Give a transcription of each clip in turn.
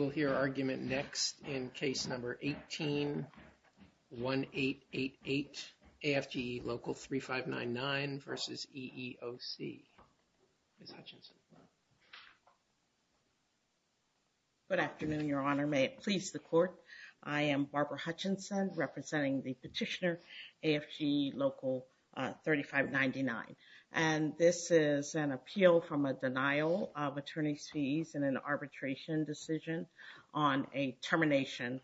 Local 3599 v. EEOC Local 3599 v. EEOC Next, in case number 18-1888, AFGE Local 3599 v. EEOC, Ms. Hutchinson. Good afternoon, Your Honor. May it please the Court. I am Barbara Hutchinson, representing the petitioner, AFGE Local 3599. And this is an appeal from a denial of attorney's fees in an arbitration decision on a termination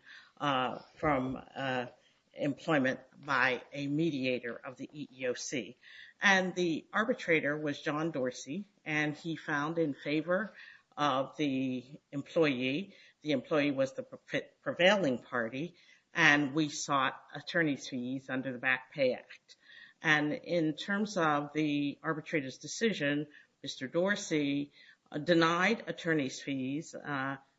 from employment by a mediator of the EEOC. And the arbitrator was John Dorsey, and he found in favor of the employee. The employee was the prevailing party, and we sought attorney's fees under the Back Pay Act. And in terms of the arbitrator's decision, Mr. Dorsey denied attorney's fees,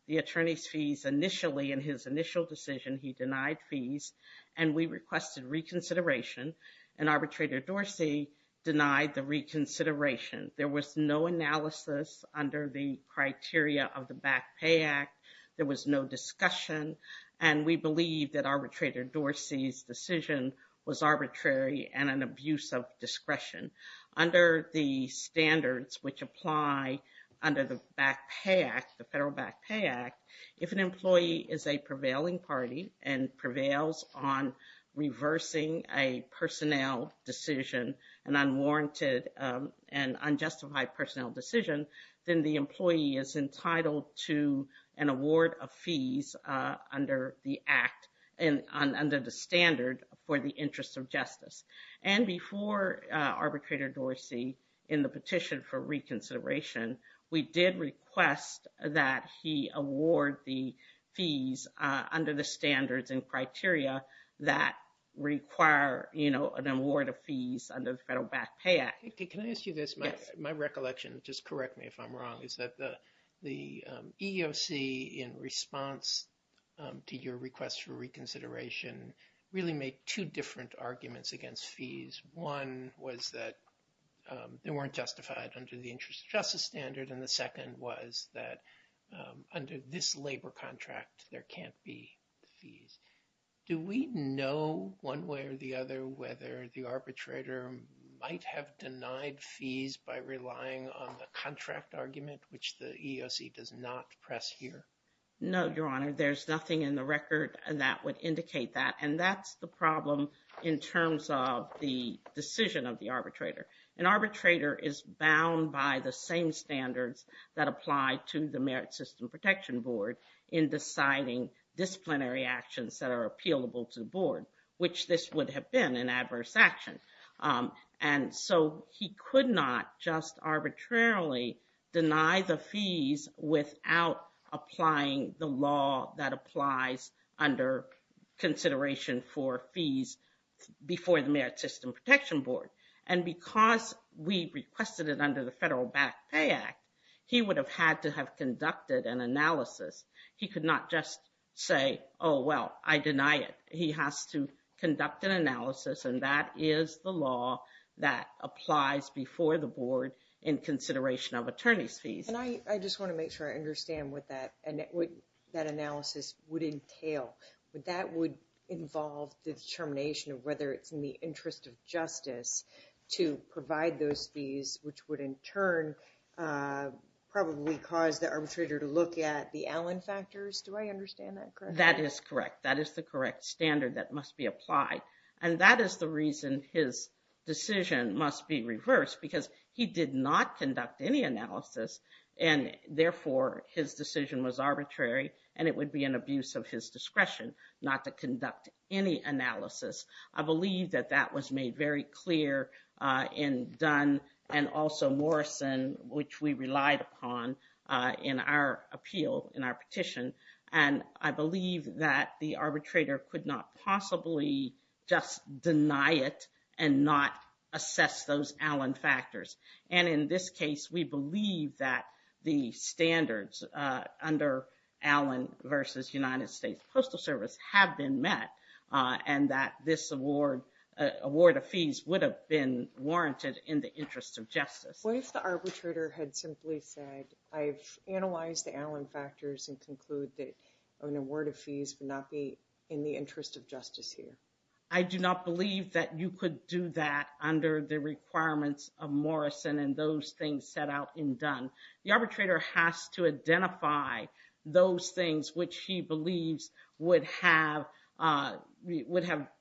the attorney's fees initially in his initial decision, he denied fees, and we requested reconsideration. And Arbitrator Dorsey denied the reconsideration. There was no analysis under the criteria of the Back Pay Act. There was no discussion, and we believe that Arbitrator Dorsey's decision was arbitrary and an abuse of discretion. Under the standards which apply under the Back Pay Act, the Federal Back Pay Act, if an employee is a prevailing party and prevails on reversing a personnel decision, an unwarranted and unjustified personnel decision, then the employee is entitled to an award of fees under the Act and under the standard for the interest of justice. And before Arbitrator Dorsey in the petition for reconsideration, we did request that he award the fees under the standards and criteria that require, you know, an award of fees under the Federal Back Pay Act. Can I ask you this? My recollection, just correct me if I'm wrong, is that the EEOC in response to your request for reconsideration really made two different arguments against fees. One was that they weren't justified under the interest of justice standard, and the second was that under this labor contract, there can't be fees. Do we know one way or the other whether the arbitrator might have denied fees by relying on the contract argument, which the EEOC does not press here? No, Your Honor, there's nothing in the record that would indicate that, and that's the problem in terms of the decision of the arbitrator. An arbitrator is bound by the same standards that apply to the Merit System Protection Board in deciding disciplinary actions that are appealable to the board, which this would have been an adverse action. And so he could not just arbitrarily deny the fees without applying the law that applies under consideration for fees before the Merit System Protection Board. And because we requested it under the Federal Back Pay Act, he would have had to have conducted an analysis. He could not just say, oh, well, I deny it. He has to conduct an analysis, and that is the law that applies before the board in consideration of attorney's fees. And I just want to make sure I understand what that analysis would entail. Would that involve the determination of whether it's in the interest of justice to provide those fees, which would in turn probably cause the arbitrator to look at the Allen factors? Do I understand that correctly? That is correct. That is the correct standard that must be applied. And that is the reason his decision must be reversed, because he did not conduct any analysis, and therefore his decision was arbitrary, and it would be an abuse of his discretion not to conduct any analysis. I believe that that was made very clear in Dunn and also Morrison, which we relied upon in our appeal, in our petition. And I believe that the arbitrator could not possibly just deny it and not assess those Allen factors. And in this case, we believe that the standards under Allen versus United States Postal Service have been met, and that this award of fees would have been warranted in the interest of justice. What if the arbitrator had simply said, I've analyzed the Allen factors and conclude that an award of fees would not be in the interest of justice here? I do not believe that you could do that under the requirements of Morrison and those things set out in Dunn. The arbitrator has to identify those things which he believes would have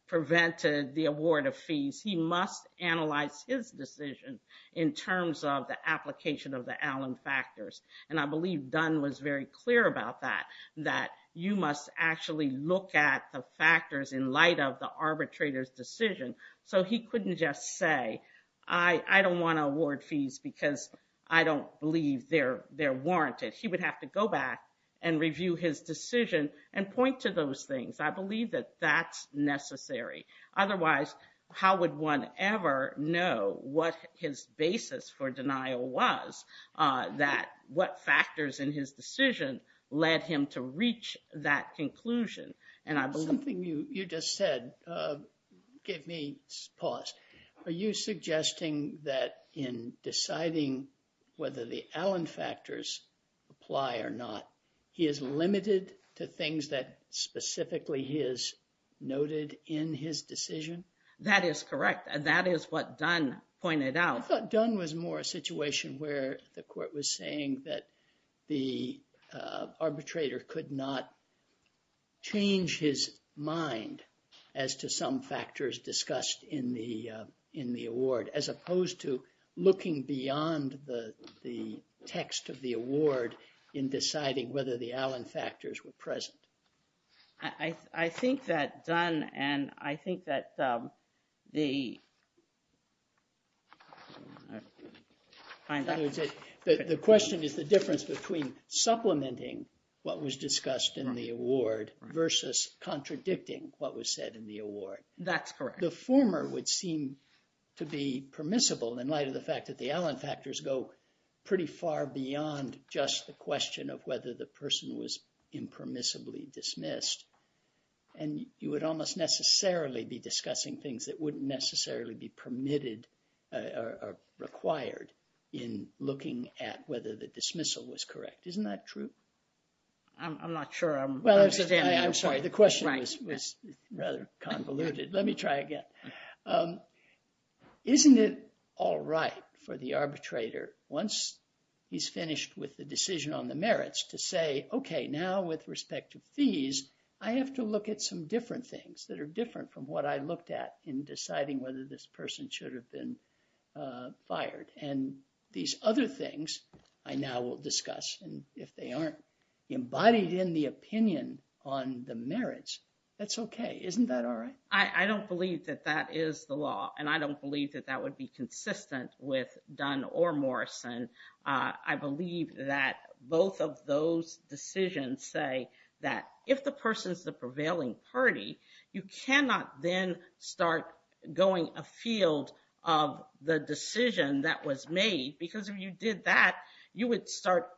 prevented the award of fees. He must analyze his decision in terms of the application of the Allen factors. And I believe Dunn was very clear about that, that you must actually look at the factors in light of the arbitrator's decision. So he couldn't just say, I don't want to award fees because I don't believe they're warranted. He would have to go back and review his decision and point to those things. I believe that that's necessary. Otherwise, how would one ever know what his basis for denial was, that what factors in his decision led him to reach that conclusion? Something you just said gave me pause. Are you suggesting that in deciding whether the Allen factors apply or not, he is limited to things that specifically he has noted in his decision? That is correct. And that is what Dunn pointed out. I thought Dunn was more a situation where the court was saying that the arbitrator could not change his mind as to some factors discussed in the award, as opposed to looking beyond the text of the award in deciding whether the Allen factors were present. I think that Dunn and I think that the... And you would almost necessarily be discussing things that wouldn't necessarily be permitted or required in looking at whether the dismissal was correct. Isn't that true? I'm not sure. Well, I'm sorry. The question was rather convoluted. Let me try again. Isn't it all right for the arbitrator once he's finished with the decision on the merits to say, okay, now with respect to fees, I have to look at some different things that are different from what I looked at in deciding whether this person should have been fired. And these other things I now will discuss. And if they aren't embodied in the opinion on the merits, that's okay. Isn't that all right? I don't believe that that is the law. And I don't believe that that would be consistent with Dunn or Morrison. I believe that both of those decisions say that if the person's the prevailing party, you cannot then start going afield of the decision that was made. Because if you did that, you would start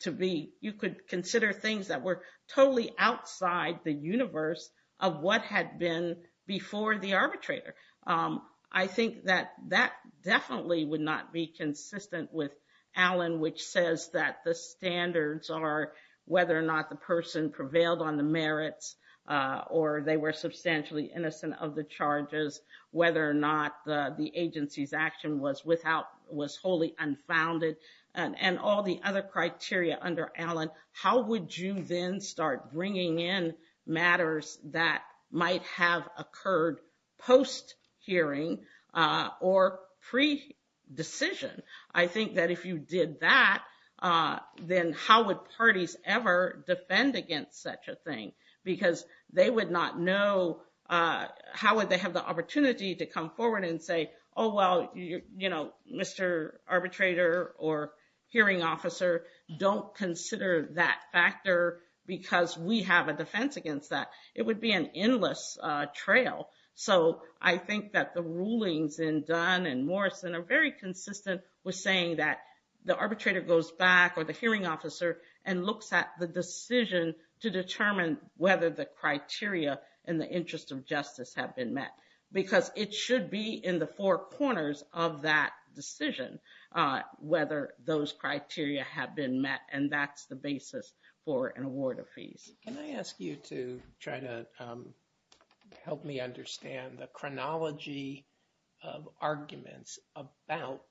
to be... You could consider things that were totally outside the universe of what had been before the arbitrator. I think that that definitely would not be consistent with Allen, which says that the standards are whether or not the person prevailed on the merits, or they were substantially innocent of the charges, whether or not the agency's action was wholly unfounded. And all the other criteria under Allen, how would you then start bringing in matters that might have occurred post-hearing or pre-decision? I think that if you did that, then how would parties ever defend against such a thing? Because they would not know... How would they have the opportunity to come forward and say, oh, well, you know, Mr. Arbitrator or Hearing Officer, don't consider that factor because we have a defense against that. It would be an endless trail. So I think that the rulings in Dunn and Morrison are very consistent with saying that the arbitrator goes back or the hearing officer and looks at the decision to determine whether the criteria in the interest of justice have been met. Because it should be in the four corners of that decision whether those criteria have been met, and that's the basis for an award of fees. Can I ask you to try to help me understand the chronology of arguments about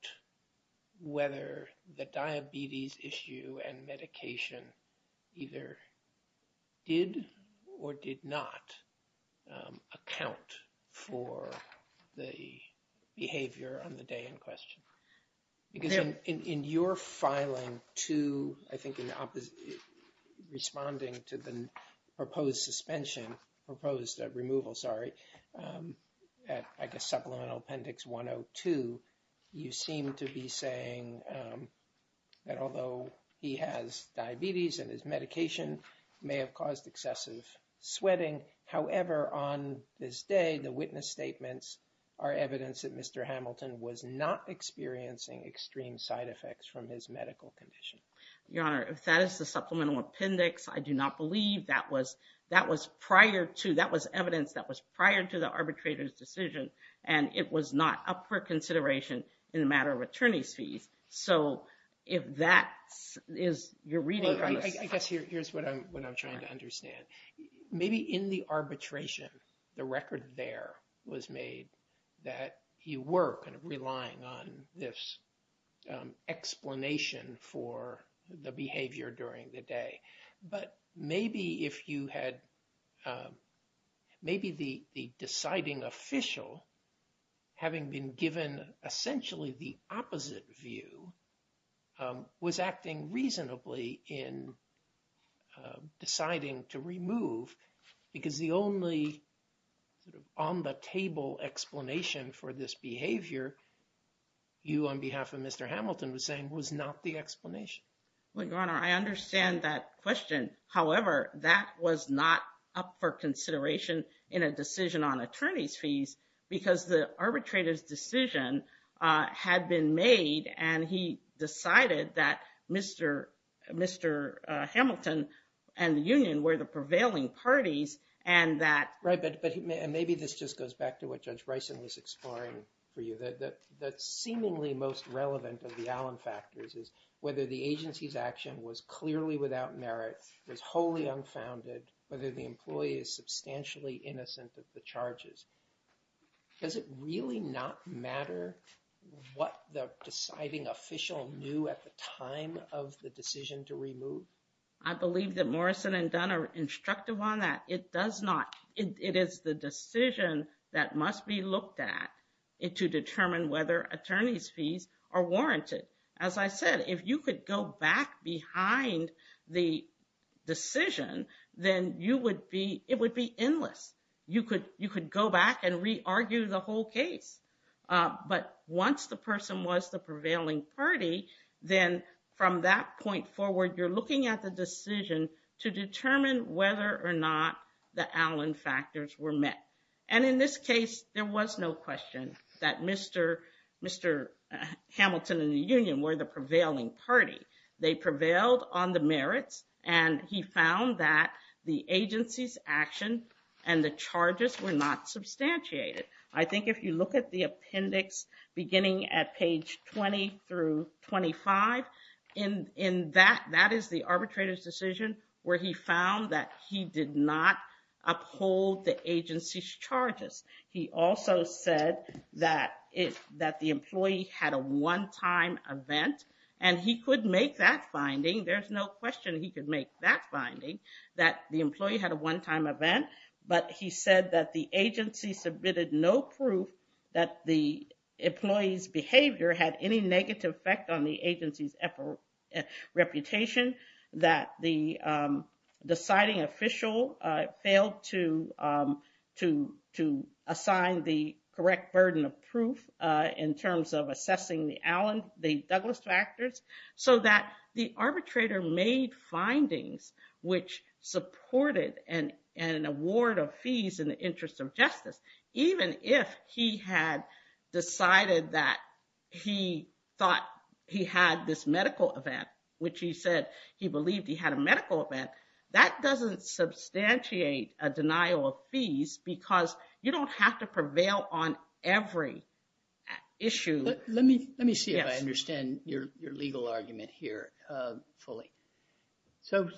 whether the diabetes issue and medication either did or did not account for the behavior on the day in question? Because in your filing to, I think, in responding to the proposed suspension, proposed removal, sorry, I guess supplemental appendix 102, you seem to be saying that although he has diabetes and his medication may have caused excessive sweating. However, on this day, the witness statements are evidence that Mr. Hamilton was not experiencing extreme side effects from his medical condition. Your Honor, if that is the supplemental appendix, I do not believe that was prior to, that was evidence that was prior to the arbitrator's decision and it was not up for consideration in a matter of attorney's fees. So if that is your reading on this. I guess here's what I'm trying to understand. Maybe in the arbitration, the record there was made that you were kind of relying on this explanation for the behavior during the day. But maybe if you had, maybe the deciding official, having been given essentially the opposite view, was acting reasonably in deciding to remove because the only sort of on the table explanation for this behavior, you on behalf of Mr. Hamilton was saying was not the explanation. Your Honor, I understand that question. However, that was not up for consideration in a decision on attorney's fees because the arbitrator's decision had been made and he decided that Mr. Hamilton and the union were the prevailing parties and that. Right, but maybe this just goes back to what Judge Bryson was exploring for you. The seemingly most relevant of the Allen factors is whether the agency's action was clearly without merit, was wholly unfounded, whether the employee is substantially innocent of the charges. Does it really not matter what the deciding official knew at the time of the decision to remove? I believe that Morrison and Dunn are instructive on that. It does not. It is the decision that must be looked at to determine whether attorney's fees are warranted. As I said, if you could go back behind the decision, then you would be, it would be endless. You could go back and re-argue the whole case. But once the person was the prevailing party, then from that point forward, you're looking at the decision to determine whether or not the Allen factors were met. And in this case, there was no question that Mr. Hamilton and the union were the prevailing party. They prevailed on the merits and he found that the agency's action and the charges were not substantiated. I think if you look at the appendix beginning at page 20 through 25, that is the arbitrator's decision where he found that he did not uphold the agency's charges. He also said that the employee had a one-time event and he could make that finding. There's no question he could make that finding, that the employee had a one-time event. But he said that the agency submitted no proof that the employee's behavior had any negative effect on the agency's reputation. That the deciding official failed to assign the correct burden of proof in terms of assessing the Allen, the Douglas factors. So that the arbitrator made findings which supported an award of fees in the interest of justice. Even if he had decided that he thought he had this medical event, which he said he believed he had a medical event, that doesn't substantiate a denial of fees because you don't have to prevail on every issue. Let me see if I understand your legal argument here fully. So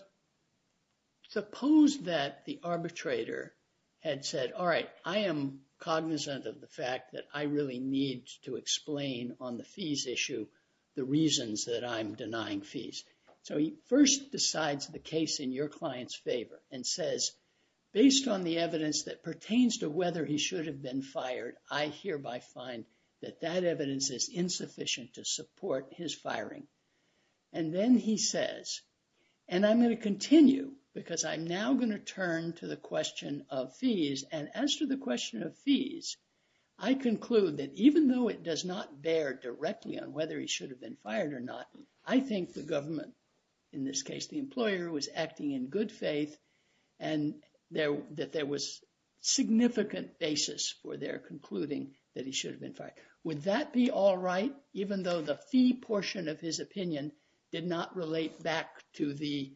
suppose that the arbitrator had said, all right, I am cognizant of the fact that I really need to explain on the fees issue the reasons that I'm denying fees. So he first decides the case in your client's favor and says, based on the evidence that pertains to whether he should have been fired, I hereby find that that evidence is insufficient to support his firing. And then he says, and I'm going to continue because I'm now going to turn to the question of fees. And as to the question of fees, I conclude that even though it does not bear directly on whether he should have been fired or not, I think the government, in this case, the employer was acting in good faith. And that there was significant basis for their concluding that he should have been fired. Would that be all right, even though the fee portion of his opinion did not relate back to the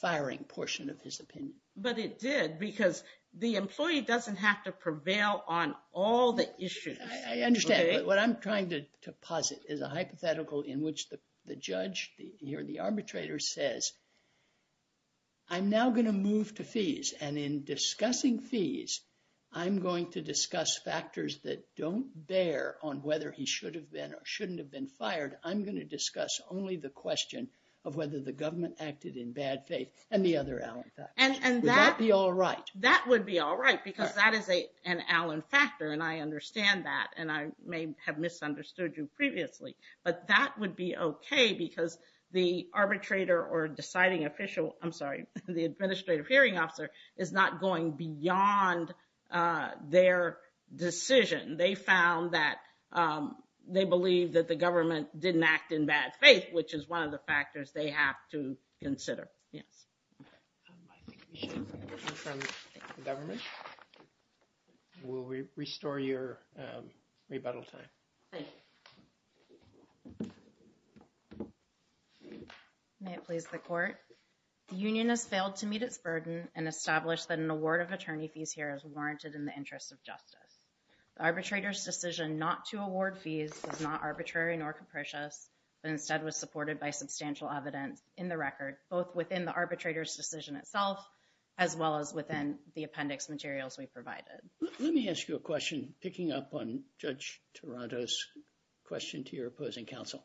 firing portion of his opinion? But it did, because the employee doesn't have to prevail on all the issues. I understand. What I'm trying to posit is a hypothetical in which the judge or the arbitrator says, I'm now going to move to fees. And in discussing fees, I'm going to discuss factors that don't bear on whether he should have been or shouldn't have been fired. I'm going to discuss only the question of whether the government acted in bad faith and the other Alan factors. Would that be all right? That would be all right, because that is an Alan factor. And I understand that. And I may have misunderstood you previously. But that would be OK, because the arbitrator or deciding official, I'm sorry, the administrative hearing officer, is not going beyond their decision. They found that they believe that the government didn't act in bad faith, which is one of the factors they have to consider. Yes. I think we should hear from the government. Will we restore your rebuttal time? Thank you. May it please the court. The union has failed to meet its burden and established that an award of attorney fees here is warranted in the interest of justice. The arbitrator's decision not to award fees is not arbitrary nor capricious, but instead was supported by substantial evidence in the record, both within the arbitrator's decision itself, as well as within the appendix materials we provided. Let me ask you a question. Picking up on Judge Toronto's question to your opposing counsel.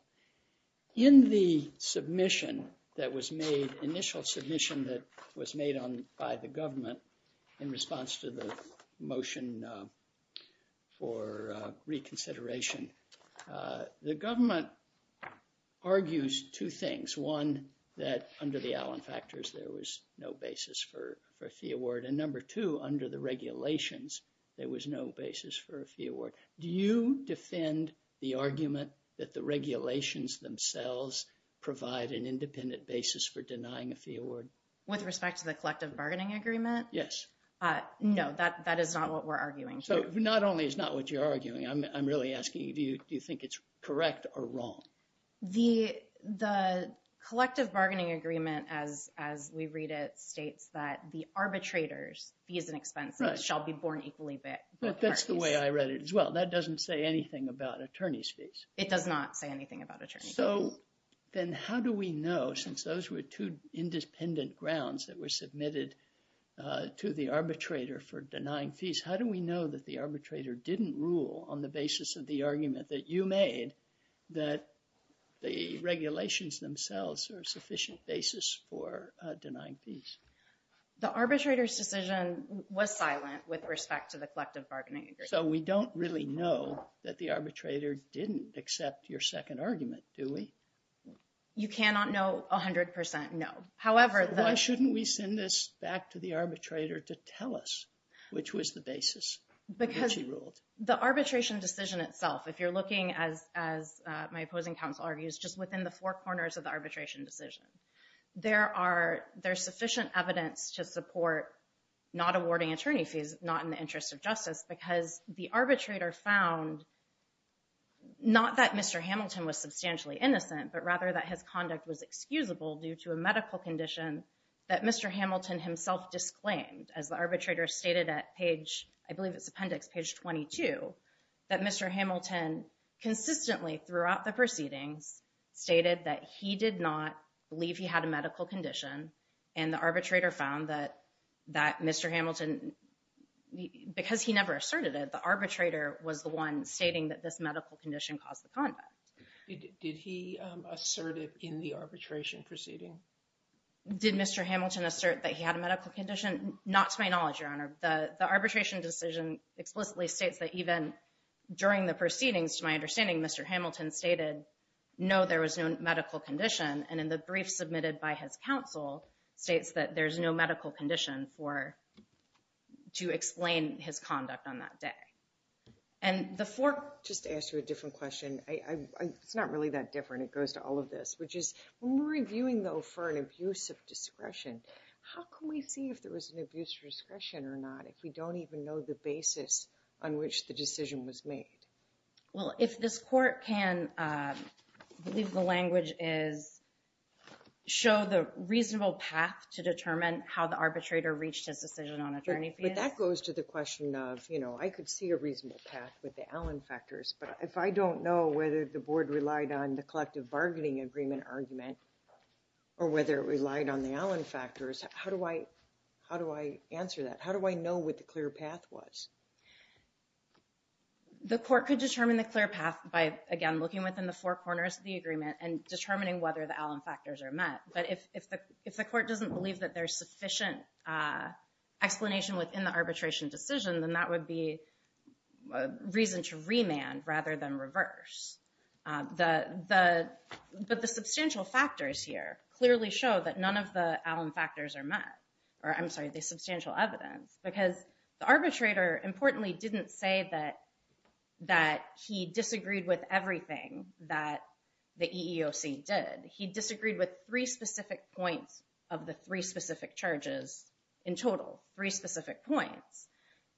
In the submission that was made, initial submission that was made by the government in response to the motion for reconsideration, the government argues two things. One, that under the Allen factors, there was no basis for a fee award. And number two, under the regulations, there was no basis for a fee award. Do you defend the argument that the regulations themselves provide an independent basis for denying a fee award? With respect to the collective bargaining agreement? Yes. No, that is not what we're arguing. So not only is not what you're arguing, I'm really asking do you think it's correct or wrong? The collective bargaining agreement, as we read it, states that the arbitrator's fees and expenses shall be borne equally by the parties. But that's the way I read it as well. That doesn't say anything about attorney's fees. It does not say anything about attorney's fees. So then how do we know, since those were two independent grounds that were submitted to the arbitrator for denying fees, how do we know that the arbitrator didn't rule on the basis of the argument that you made that the regulations themselves are sufficient basis for denying fees? The arbitrator's decision was silent with respect to the collective bargaining agreement. So we don't really know that the arbitrator didn't accept your second argument, do we? You cannot know 100% no. Why shouldn't we send this back to the arbitrator to tell us which was the basis? Because the arbitration decision itself, if you're looking, as my opposing counsel argues, just within the four corners of the arbitration decision, there's sufficient evidence to support not awarding attorney fees, not in the interest of justice, because the arbitrator found not that Mr. Hamilton's conduct was excusable due to a medical condition that Mr. Hamilton himself disclaimed, as the arbitrator stated at page, I believe it's appendix, page 22, that Mr. Hamilton consistently throughout the proceedings stated that he did not believe he had a medical condition, and the arbitrator found that Mr. Hamilton, because he never asserted it, the arbitrator was the one stating that this medical condition caused the conduct. Did he assert it in the arbitration proceeding? Did Mr. Hamilton assert that he had a medical condition? Not to my knowledge, Your Honor. The arbitration decision explicitly states that even during the proceedings, to my understanding, Mr. Hamilton stated no, there was no medical condition, and in the brief submitted by his counsel states that there's no medical condition for to explain his conduct on that day. And the four... Just to ask you a different question. It's not really that different. It goes to all of this, which is, when we're reviewing, though, for an abuse of discretion, how can we see if there was an abuse of discretion or not if we don't even know the basis on which the decision was made? Well, if this court can, I believe the language is, show the reasonable path to determine how the arbitrator reached his decision on attorney fees. But that goes to the question of, you know, I could see a reasonable path with the Allen factors, but if I don't know whether the board relied on the collective bargaining agreement argument or whether it relied on the Allen factors, how do I answer that? How do I know what the clear path was? The court could determine the clear path by, again, looking within the four corners of the agreement and determining whether the Allen factors are met. But if the court doesn't believe that there's sufficient explanation within the arbitration decision, then that would be reason to remand rather than reverse. But the substantial factors here clearly show that none of the Allen factors are met. Or I'm sorry, the substantial evidence. Because the arbitrator, importantly, didn't say that he disagreed with everything that the EEOC did. He disagreed with three specific points of the three specific charges in total, three specific points.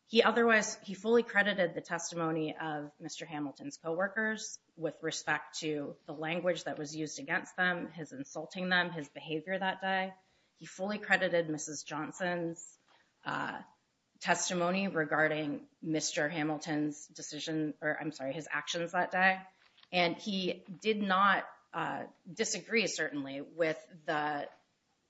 He otherwise, he fully credited the testimony of Mr. Hamilton's coworkers with respect to the language that was used against them, his insulting them, his behavior that day. He fully credited Mrs. Johnson's testimony regarding Mr. Hamilton's decision, or I'm sorry, his actions that day. And he did not disagree, certainly, with the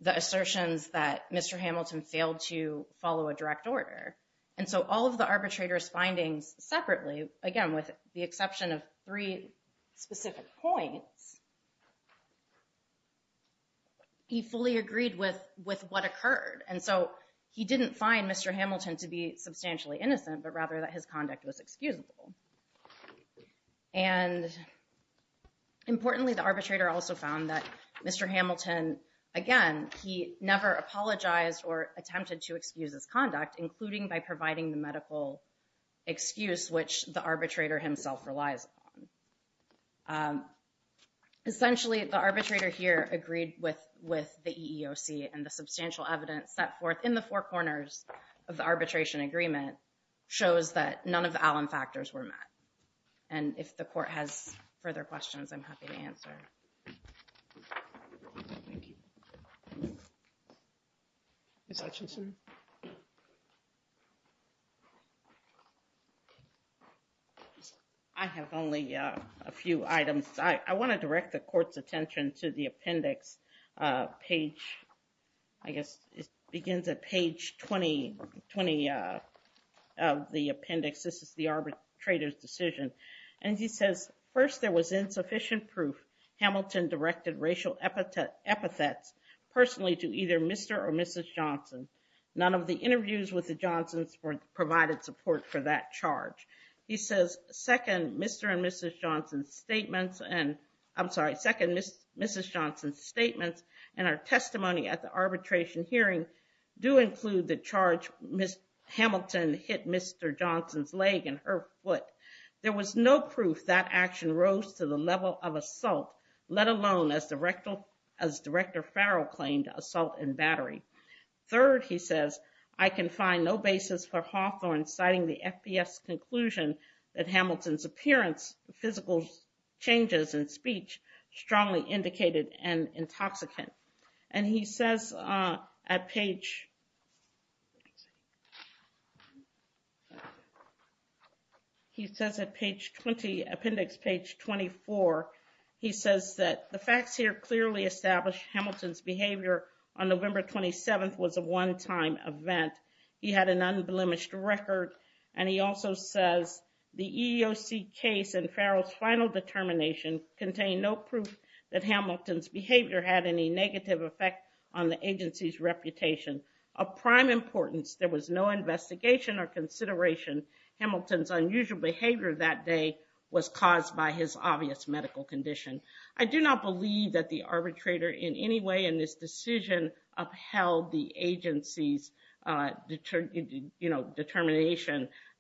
assertions that Mr. Hamilton failed to follow a direct order. And so all of the arbitrator's findings separately, again, with the exception of three specific points, he fully agreed with what occurred. And so he didn't find Mr. Hamilton to be substantially innocent, but rather that his conduct was excusable. And importantly, the arbitrator also found that Mr. Hamilton, again, he never apologized or attempted to excuse his conduct, including by providing the medical excuse which the arbitrator himself relies on. Essentially, the arbitrator here agreed with the EEOC and the substantial evidence set forth in the four corners of the arbitration agreement shows that none of the Allen factors were met. And if the court has further questions, I'm happy to answer. Thank you. Ms. Hutchinson? I have only a few items. I want to direct the court's attention to the appendix page. I guess it begins at page 20 of the appendix. This is the arbitrator's decision. And he says, first, there was insufficient proof Hamilton directed racial epithets personally to either Mr. or Mrs. Johnson. None of the interviews with the Johnsons provided support for that charge. He says, second, Mr. and Mrs. Johnson's statements and, I'm sorry, second, Mrs. Johnson's statements and her testimony at the arbitration hearing do include the charge Ms. Hamilton hit Mr. Johnson's leg and her foot. There was no proof that action rose to the level of assault, let alone as Director Farrell claimed, assault and battery. Third, he says, I can find no basis for Hawthorne citing the FBS conclusion that Hamilton's appearance, physical changes in speech, strongly indicated and intoxicant. And he says at page... Page 7 was a one-time event. He had an unblemished record. And he also says, the EEOC case and Farrell's final determination contained no proof that Hamilton's behavior had any negative effect on the agency's reputation. Of prime importance, there was no investigation or consideration Hamilton's unusual behavior that day was caused by his obvious medical condition. I do not believe that the arbitrator in any way in this decision upheld the agency's determination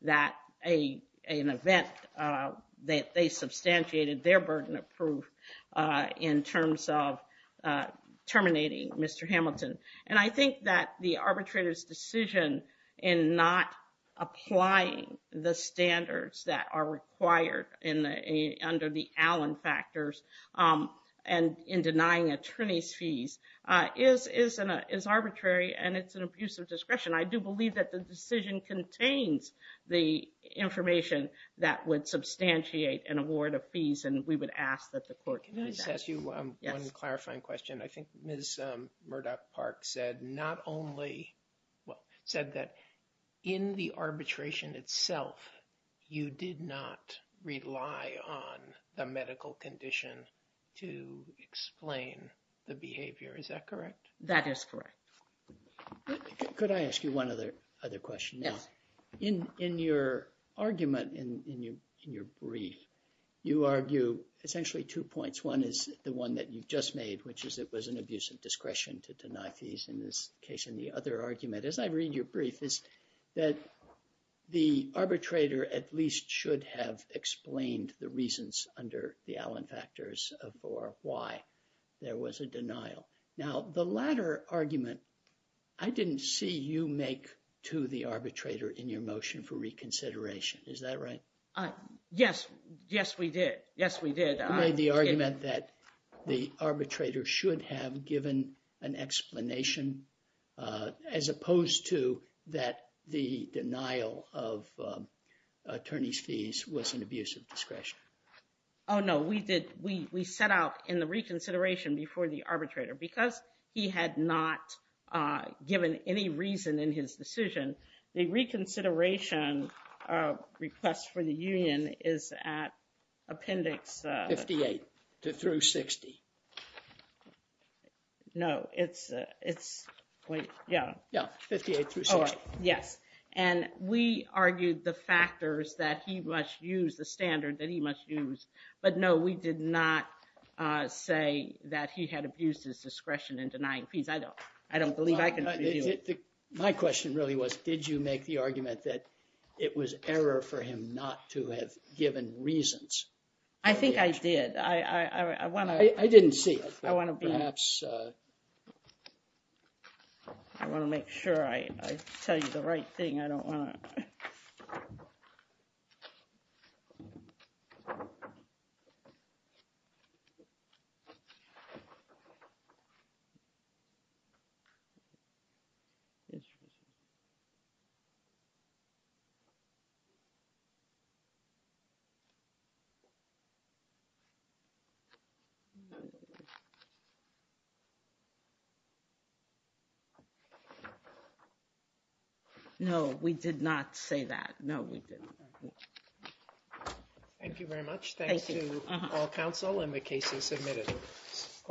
that an event that they substantiated their burden of proof in terms of terminating Mr. Hamilton. And I think that the arbitrator's decision in not applying the standards that are required under the Allen factors and in denying attorneys fees is arbitrary and it's an abuse of discretion. I do believe that the decision contains the information that would substantiate an award of fees and we would ask that the court... Can I just ask you one clarifying question? I think Ms. Murdoch-Park said not only... Well, said that in the arbitration itself, you did not rely on the medical condition to explain the behavior. Is that correct? That is correct. Could I ask you one other question? Yes. In your argument, in your brief, you argue essentially two points. One is the one that you've just made, which is it was an abuse of discretion to deny fees in this case. And the other argument, as I read your brief, is that the arbitrator at least should have explained the reasons under the Allen factors for why there was a denial. Now, the latter argument, I didn't see you make to the arbitrator in your motion for reconsideration. Is that right? Yes. Yes, we did. Yes, we did. You made the argument that the arbitrator should have given an explanation as opposed to that the denial of attorney's fees was an abuse of discretion. Oh, no, we did. We set out in the reconsideration before the arbitrator because he had not given any reason in his decision. The reconsideration request for the union is at appendix... 58 through 60. No, it's... Yeah. Yeah, 58 through 60. Yes, and we argued the factors that he must use, the standard that he must use. But no, we did not say that he had abused his discretion in denying fees. I don't believe I can... My question really was, did you make the argument that it was error for him not to have given reasons? I think I did. I want to... I didn't see. I want to be... Perhaps... I want to make sure I tell you the right thing. I don't want to... No, we did not say that. No, we didn't. Thank you very much. Thank you. Thanks to all counsel and the cases submitted.